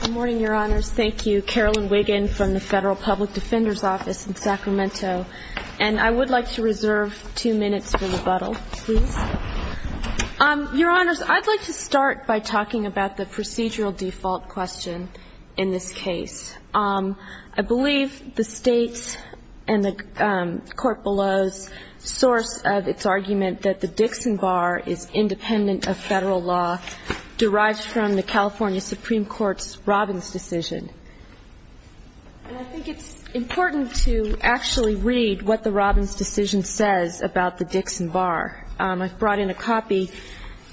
Good morning, Your Honors. Thank you. Carolyn Wiggin from the Federal Public Defender's Office in Sacramento. And I would like to reserve two minutes for rebuttal, please. Your Honors, I'd like to start by talking about the procedural default question in this case. I believe the state and the court below's source of its argument that the Dixon Bar is independent of federal law derives from the California Supreme Court's Robbins decision. And I think it's important to actually read what the Robbins decision says about the Dixon Bar. I've brought in a copy,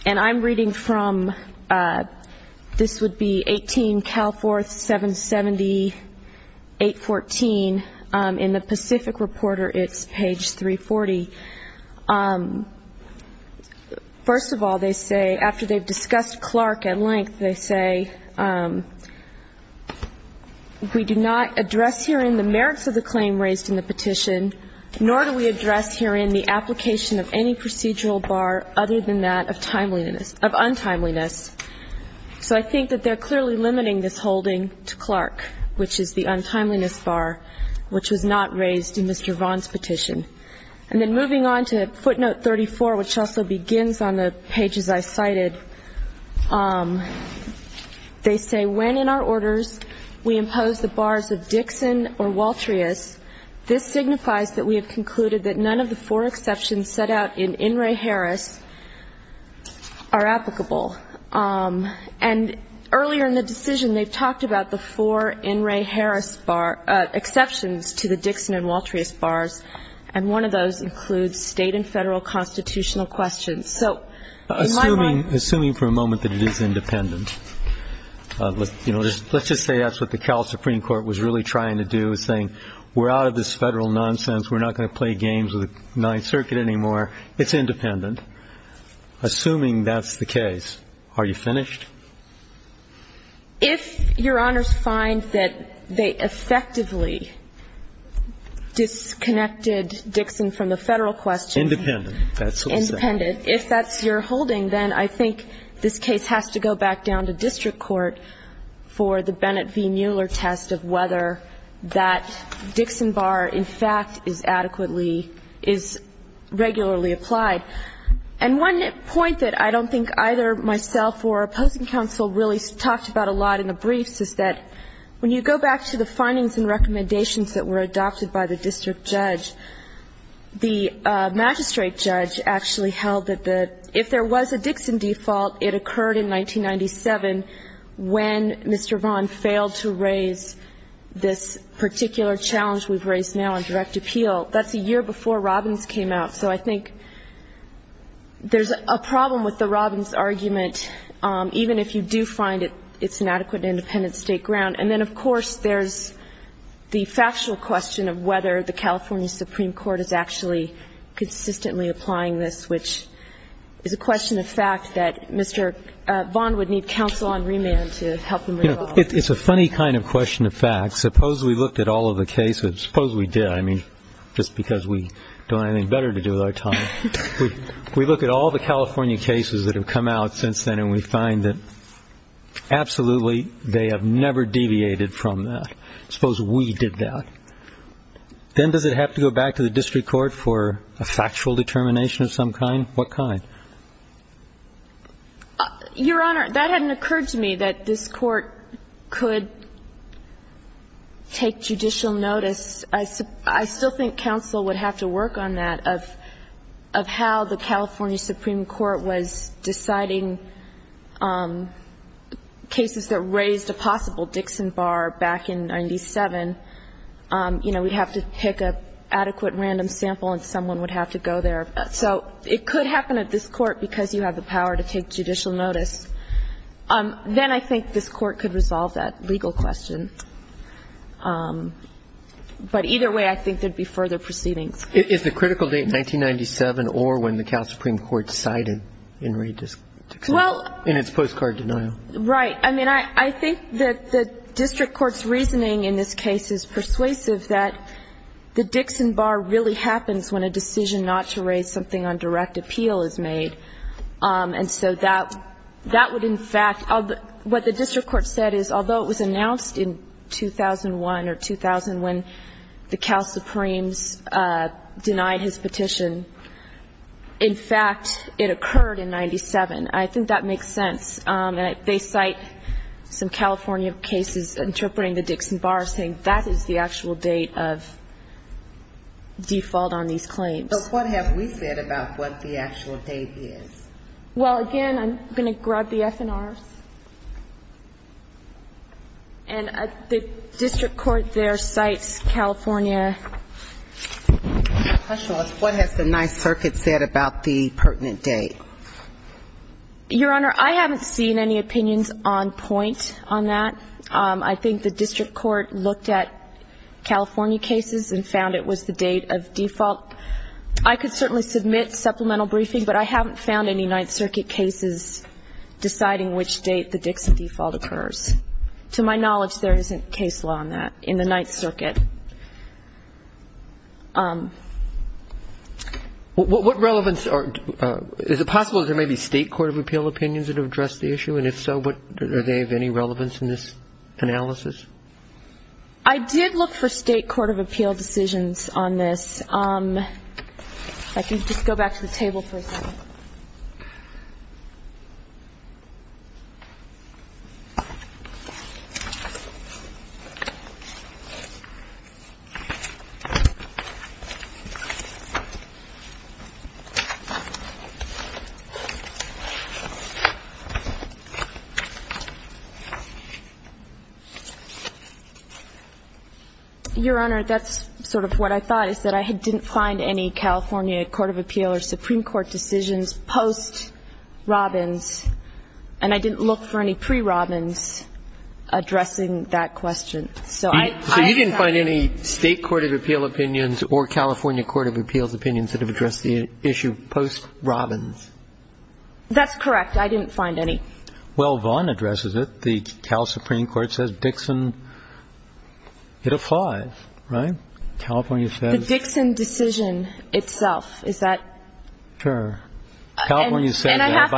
and I'm reading from, this would be 18, Cal 4, 770, 814. In the Pacific Reporter, it's page 340. First of all, they say, after they've discussed Clark at length, they say, we do not address herein the merits of the claim raised in the petition, nor do we address herein the application of any procedural bar other than that of timeliness, of untimeliness. So I think that they're clearly limiting this holding to Clark, which is the untimeliness bar, which was not raised in Mr. Vaughn's petition. And then moving on to footnote 34, which also begins on the pages I cited, they say, when in our orders we impose the bars of Dixon or Waltrius, this signifies that we have concluded that none of the four exceptions set out in In re Harris are applicable. And earlier in the decision, they've talked about the four In re Harris bar, exceptions to the Dixon and Waltrius bars, and one of those includes state and federal constitutional questions. So in my mind... Assuming for a moment that it is independent. Let's just say that's what the Cal Supreme Court was really trying to do, saying, we're out of this federal nonsense. We're not going to play games with the Ninth Circuit anymore. It's independent. Assuming that's the case has to go back down to district court for the Bennett v. Mueller test of whether that Dixon bar, in fact, is adequately, is regularly applied. And one point that I don't think either myself or opposing parties would agree on is that, if your Honor's talked about a lot in the briefs is that when you go back to the findings and recommendations that were adopted by the district judge, the magistrate judge actually held that if there was a Dixon default, it occurred in 1997 when Mr. Vaughn failed to raise this particular challenge we've raised now in direct appeal. That's a year before Robbins came out. So I think there's a problem with the Robbins argument, even if you do find it's an adequate independent state ground. And then, of course, there's the factual question of whether the California Supreme Court is actually consistently applying this, which is a question of fact that Mr. Vaughn would need counsel on remand to help him resolve. It's a funny kind of question of fact. Suppose we looked at all of the cases. Suppose we did. I mean, just because we don't have anything better to do with our time. We look at all the California cases that have come out since then, and we find that absolutely they have never deviated from that. Suppose we did that. Then does it have to go back to the district court for a factual determination of some kind? What kind? Your Honor, that hadn't occurred to me that this Court could take judicial notice. I still think counsel would have to work on that, of how the California Supreme Court was deciding cases that raised a possible Dixon bar back in 97. You know, we'd have to pick an adequate random sample, and someone would have to go there. So it could happen at this Court because you have the power to take judicial notice. Then I think this Court could resolve that legal question. But either way, I think there would be further proceedings. Is the critical date 1997 or when the California Supreme Court decided in its postcard denial? Right. I mean, I think that the district court's reasoning in this case is persuasive that the Dixon bar really happens when a decision not to raise something on direct basis. And what the district court said is although it was announced in 2001 or 2000 when the Cal Supremes denied his petition, in fact, it occurred in 97. I think that makes sense. They cite some California cases interpreting the Dixon bar saying that is the actual date of default on these claims. But what have we said about what the actual date is? Well, again, I'm going to grab the FNRs. And the district court there cites California question. What has the Ninth Circuit said about the pertinent date? Your Honor, I haven't seen any opinions on point on that. I think the district court looked at California cases and found it was the date of default. I could certainly submit supplemental briefing, but I haven't found any Ninth Circuit cases deciding which date the Dixon default occurs. To my knowledge, there isn't case law on that in the Ninth Circuit. What relevance are – is it possible that there may be State court of appeal opinions that have addressed the issue? And if so, are they of any relevance in this analysis? I did look for State court of appeal decisions on this. If I could just go back to the table for a second. Your Honor, that's sort of what I thought, is that I didn't find any California court of appeal or Supreme Court decisions post Robbins, and I didn't look for any pre-Robbins addressing that question. So you didn't find any State court of appeal opinions or California court of appeals opinions that have addressed the issue post Robbins? That's correct. I didn't find any. Well, Vaughn addresses it. The Cal Supreme Court says Dixon – it applies, right? California says – The Dixon decision itself, is that – Sure. California says – And I have to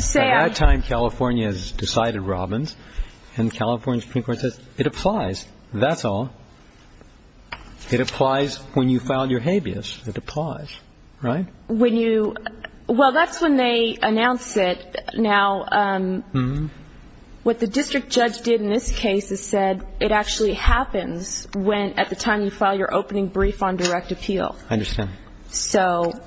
say – By that time, California has decided Robbins, and California Supreme Court says it applies. That's all. It applies when you file your habeas. It applies, right? Well, that's when they announce it. Now, what the district judge did in this case is said it actually happens when – at the time you file your opening brief on direct appeal. I understand. So,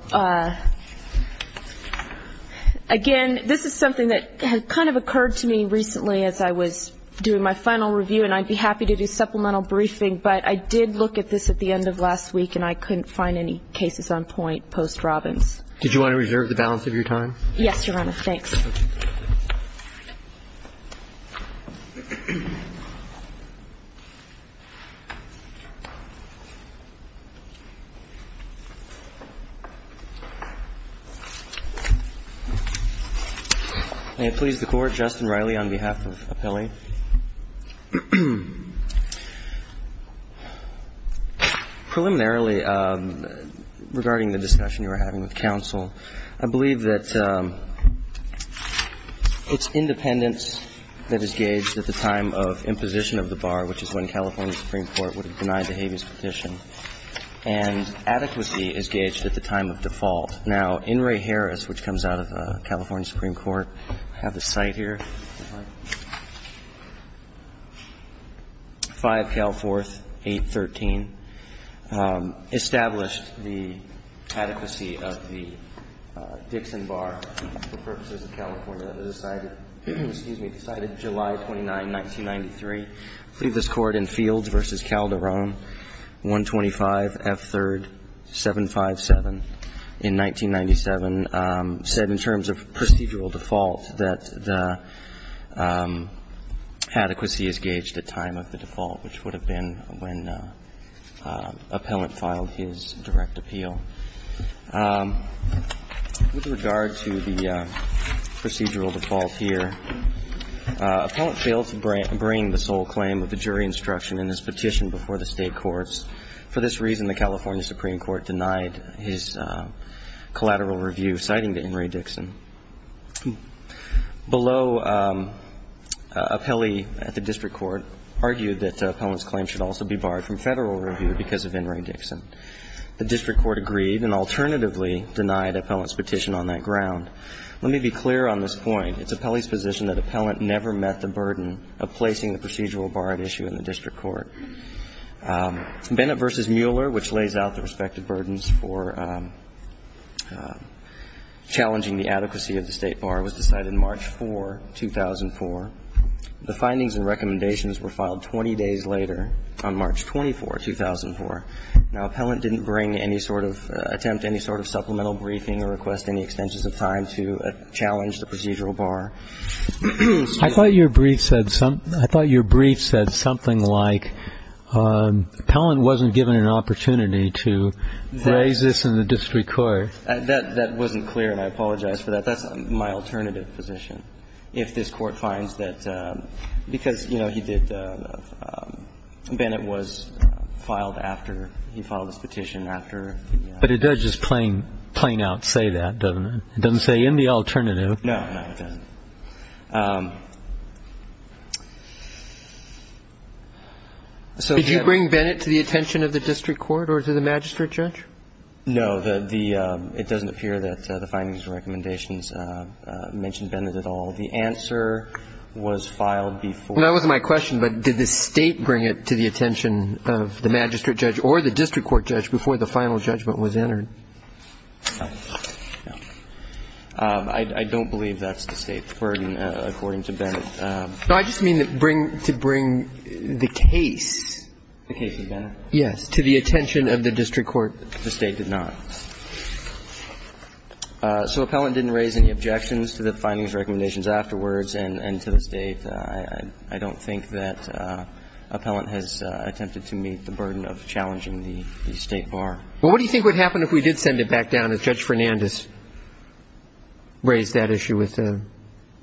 again, this is something that kind of occurred to me recently as I was doing my final review, and I'd be happy to do supplemental briefing, but I did look at this at the end of last week, and I couldn't find any cases on point post Robbins. Did you want to reserve the balance of your time? Yes, Your Honor. Thanks. May it please the Court. Justin Riley on behalf of Appealing. Preliminarily, regarding the discussion you were having with counsel, I believe that it's independence that is gauged at the time of imposition of the bar, which is when California Supreme Court would have denied the habeas petition, and adequacy is gauged at the time of default. Now, In re Harris, which comes out of California Supreme Court, I have the site here, 5 Cal 4th, 813, established the adequacy of the Dixon bar for purposes of California, decided – excuse me – decided July 29, 1993, plead this court in Fields v. Calderon, 125 F. 3rd, 757 in 1997, said in terms of procedural default that the adequacy is gauged at time of the default, which would have been when appellant filed his direct appeal. With regard to the procedural default here, appellant failed to bring the sole claim of the jury instruction in his petition before the State courts. For this reason, the California Supreme Court denied his collateral review, citing to In re Dixon. Below, appellee at the district court argued that appellant's claim should also be barred from Federal review because of In re Dixon. The district court agreed and alternatively denied appellant's petition on that ground. Let me be clear on this point. It's appellee's position that appellant never met the burden of placing the procedural bar at issue in the district court. Bennett v. Mueller, which lays out the respective burdens for challenging the adequacy of the State bar, was decided March 4, 2004. The findings and recommendations were filed 20 days later on March 24, 2004. Now, appellant didn't bring any sort of attempt, any sort of supplemental briefing or request any extensions of time to challenge the procedural bar. I thought your brief said something like appellant wasn't given an opportunity to raise this in the district court. That wasn't clear, and I apologize for that. That's my alternative position, if this Court finds that, because, you know, he did, Bennett was filed after he filed this petition after. But it does just plain out say that, doesn't it? It doesn't say in the alternative. No, no, it doesn't. Did you bring Bennett to the attention of the district court or to the magistrate judge? No. It doesn't appear that the findings and recommendations mention Bennett at all. The answer was filed before. That wasn't my question, but did the State bring it to the attention of the magistrate judge or the district court judge before the final judgment was entered? No. I don't believe that's the State's burden, according to Bennett. No, I just mean to bring the case. The case of Bennett? Yes, to the attention of the district court. The State did not. So appellant didn't raise any objections to the findings, recommendations afterwards and to the State. I don't think that appellant has attempted to meet the burden of challenging the State bar. Well, what do you think would happen if we did send it back down as Judge Fernandez raised that issue with the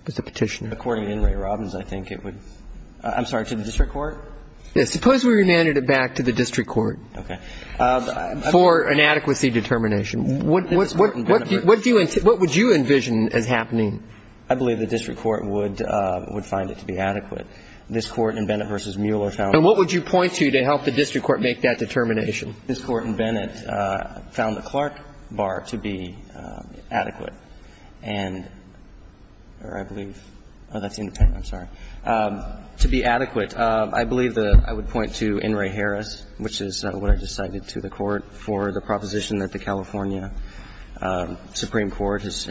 Petitioner? According to Henry Robbins, I think it would. I'm sorry, to the district court? Yes. Suppose we remanded it back to the district court. Okay. For an adequacy determination. What would you envision as happening? I believe the district court would find it to be adequate. This Court and Bennett v. Mueller found it adequate. And what would you point to to help the district court make that determination? This Court and Bennett found the Clark bar to be adequate. And I believe that's independent. I'm sorry. To be adequate, I believe that I would point to In re Harris, which is what I just cited to the Court for the proposition that the California Supreme Court has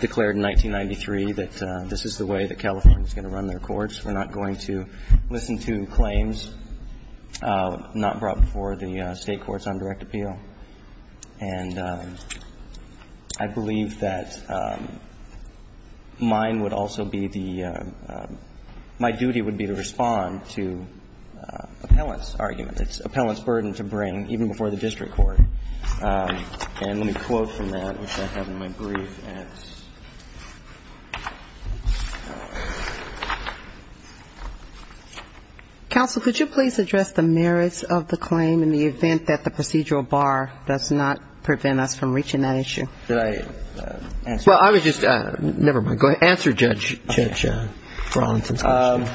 declared in 1993 that this is the way that California is going to run their courts. We're not going to listen to claims not brought before the State courts on direct appeal. And I believe that mine would also be the my duty would be to respond to appellant's argument. It's appellant's burden to bring, even before the district court. And let me quote from that, which I have in my brief. Counsel, could you please address the merits of the claim in the event that the procedural bar does not prevent us from reaching that issue? Did I answer your question? Well, I was just ñ never mind. Go ahead. Answer, Judge Bronson's question.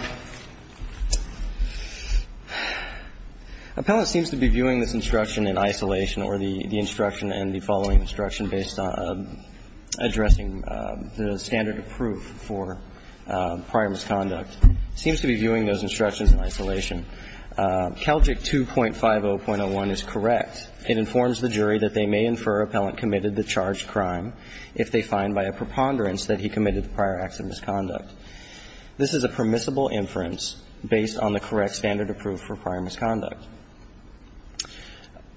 Appellant seems to be viewing this instruction in isolation. Or the instruction and the following instruction based on addressing the standard of proof for prior misconduct. Seems to be viewing those instructions in isolation. CALJIC 2.50.01 is correct. It informs the jury that they may infer appellant committed the charged crime if they find by a preponderance that he committed prior acts of misconduct. This is a permissible inference based on the correct standard of proof for prior misconduct.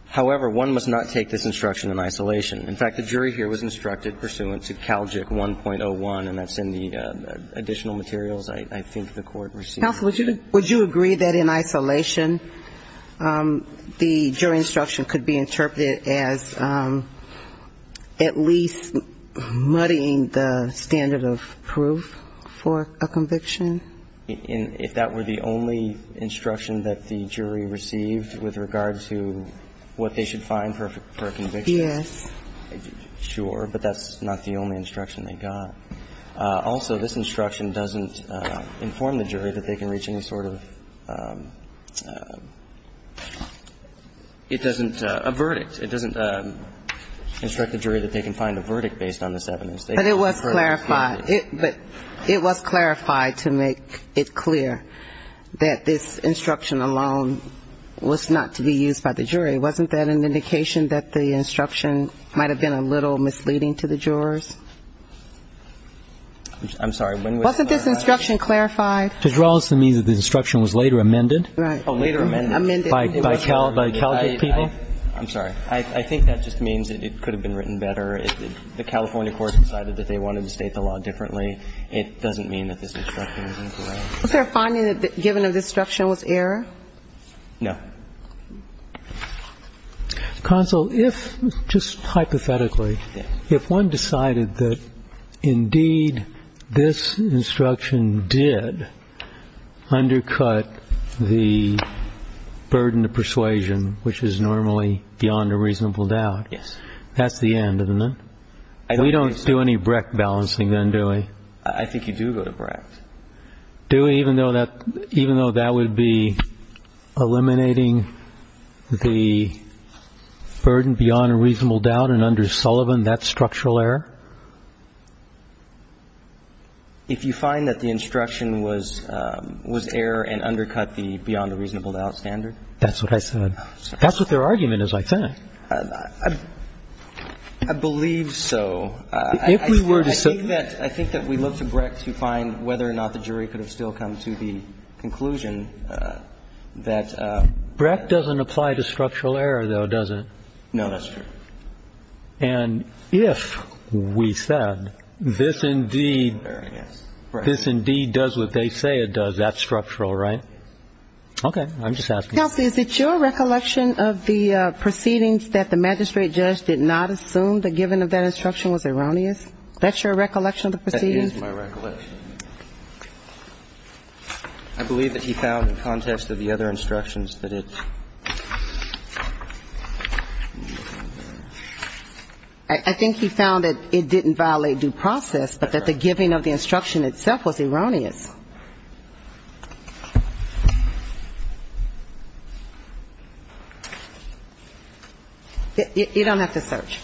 However, one must not take this instruction in isolation. In fact, the jury here was instructed pursuant to CALJIC 1.01, and that's in the additional materials I think the court received. Counsel, would you agree that in isolation the jury instruction could be interpreted as at least muddying the standard of proof for a conviction? If that were the only instruction that the jury received with regard to what they should find for a conviction? Yes. Sure. But that's not the only instruction they got. Also, this instruction doesn't inform the jury that they can reach any sort of ñ it doesn't ñ a verdict. It doesn't instruct the jury that they can find a verdict based on this evidence. But it was clarified to make it clear that this instruction alone was not to be used by the jury. Wasn't that an indication that the instruction might have been a little misleading to the jurors? I'm sorry. Wasn't this instruction clarified? It draws to me that the instruction was later amended. Right. Later amended. Amended. By CALJIC people. I'm sorry. I think that just means that it could have been written better if the California courts decided that they wanted to state the law differently. It doesn't mean that this instruction is incorrect. Was there a finding that given that this instruction was error? No. Counsel, if, just hypothetically, if one decided that, indeed, this instruction did undercut the burden of persuasion, which is normally beyond a reasonable doubt, that's the end, isn't it? We don't do any Brecht balancing then, do we? I think you do go to Brecht. Do we, even though that would be eliminating the burden beyond a reasonable doubt and under Sullivan, that's structural error? If you find that the instruction was error and undercut the beyond a reasonable doubt standard. That's what I said. That's what their argument is, I think. I believe so. I think that we look to Brecht to find whether or not the jury could have still come to the conclusion that. Brecht doesn't apply to structural error, though, does it? No, that's true. And if we said this, indeed, this, indeed, does what they say it does, that's structural, right? Okay. I'm just asking. Counsel, is it your recollection of the proceedings that the magistrate judge did not assume the giving of that instruction was erroneous? That's your recollection of the proceedings? That is my recollection. I believe that he found in context of the other instructions that it's. I think he found that it didn't violate due process, but that the giving of the instruction itself was erroneous. Counsel. You don't have to search.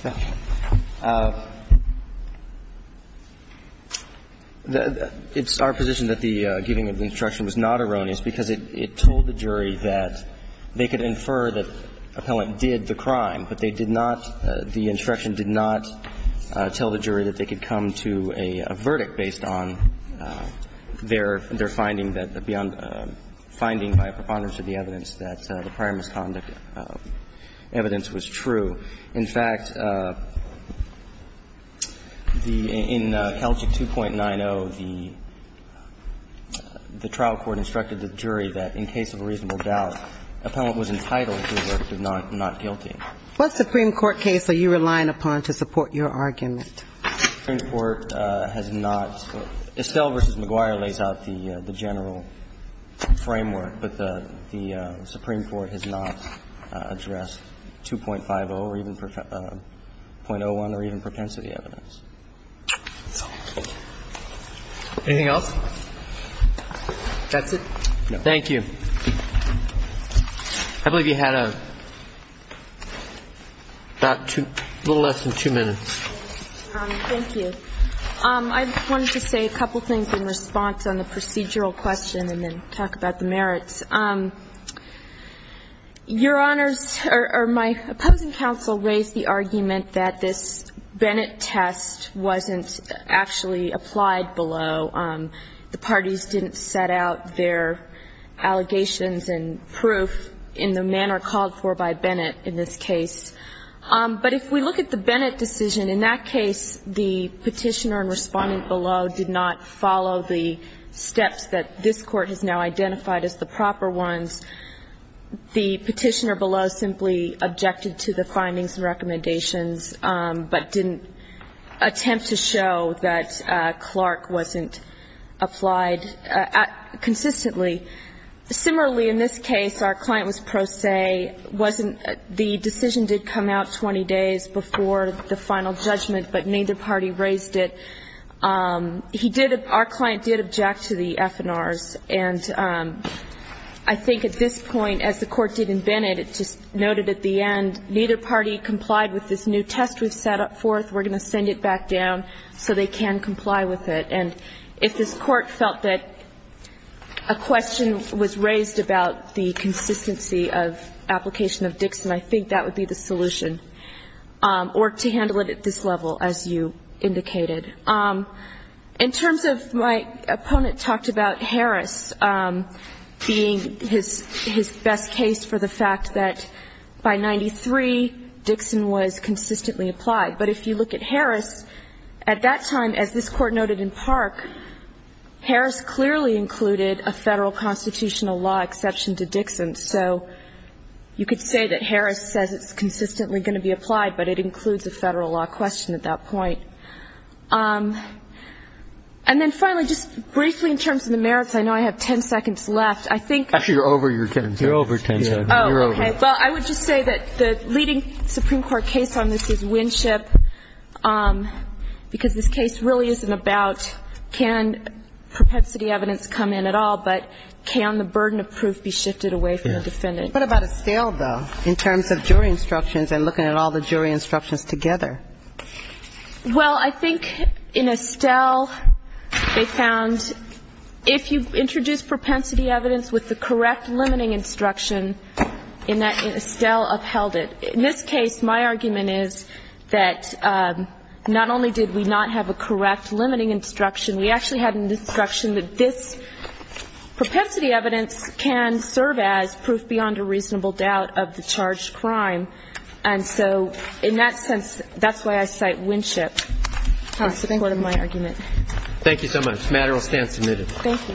It's our position that the giving of the instruction was not erroneous because it told the jury that they could infer that the appellant did the crime, but they found that the evidence was true. In fact, in CALCHIC 2.90, the trial court instructed the jury that in case of a reasonable doubt, the appellant was entitled to the verdict of not guilty. What Supreme Court case are you relying upon to support your argument? The Supreme Court has not. Estelle v. McGuire lays out the general framework, but the Supreme Court has not addressed 2.50 or even 0.01 or even propensity evidence. Anything else? That's it? No. Thank you. I believe you had about two, a little less than two minutes. Thank you. I wanted to say a couple things in response on the procedural question and then talk about the merits. Your Honors, or my opposing counsel raised the argument that this Bennett test wasn't actually applied below. The parties didn't set out their allegations and proof in the manner called for by Bennett in this case. But if we look at the Bennett decision, in that case, the Petitioner and Respondent below did not follow the steps that this Court has now identified as the proper ones. The Petitioner below simply objected to the findings and recommendations but didn't attempt to show that Clark wasn't applied consistently. Similarly, in this case, our client was pro se. The decision did come out 20 days before the final judgment, but neither party raised it. He did, our client did object to the F&Rs. And I think at this point, as the Court did in Bennett, it just noted at the end neither party complied with this new test we've set forth. We're going to send it back down so they can comply with it. And if this Court felt that a question was raised about the consistency of application of Dixon, I think that would be the solution, or to handle it at this level, as you indicated. In terms of my opponent talked about Harris being his best case for the fact that by 93, Dixon was consistently applied. But if you look at Harris, at that time, as this Court noted in Park, Harris clearly included a Federal constitutional law exception to Dixon. So you could say that Harris says it's consistently going to be applied, but it includes a Federal law question at that point. And then finally, just briefly in terms of the merits, I know I have 10 seconds left. I think you're over your 10 seconds. You're over 10 seconds. Oh, okay. Well, I would just say that the leading Supreme Court case on this is Winship because this case really isn't about can propensity evidence come in at all, but can the burden of proof be shifted away from the defendant? What about Estelle, though, in terms of jury instructions and looking at all the jury instructions together? Well, I think in Estelle they found if you introduce propensity evidence with the defendant, Estelle upheld it. In this case, my argument is that not only did we not have a correct limiting instruction, we actually had an instruction that this propensity evidence can serve as proof beyond a reasonable doubt of the charged crime. And so in that sense, that's why I cite Winship as a part of my argument. Thank you so much. The matter will stand submitted. Thank you.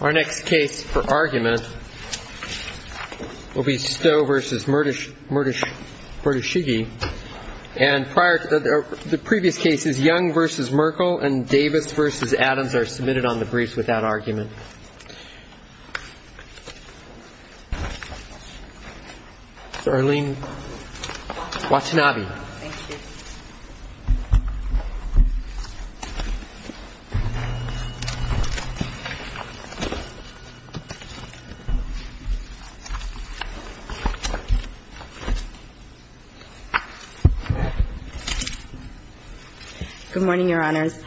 Our next case for argument will be Stowe v. Murtishige. And prior to the previous cases, Young v. Merkel and Davis v. Adams are submitted on the briefs without argument. Erlene Watanabe. Thank you. Good morning, Your Honors.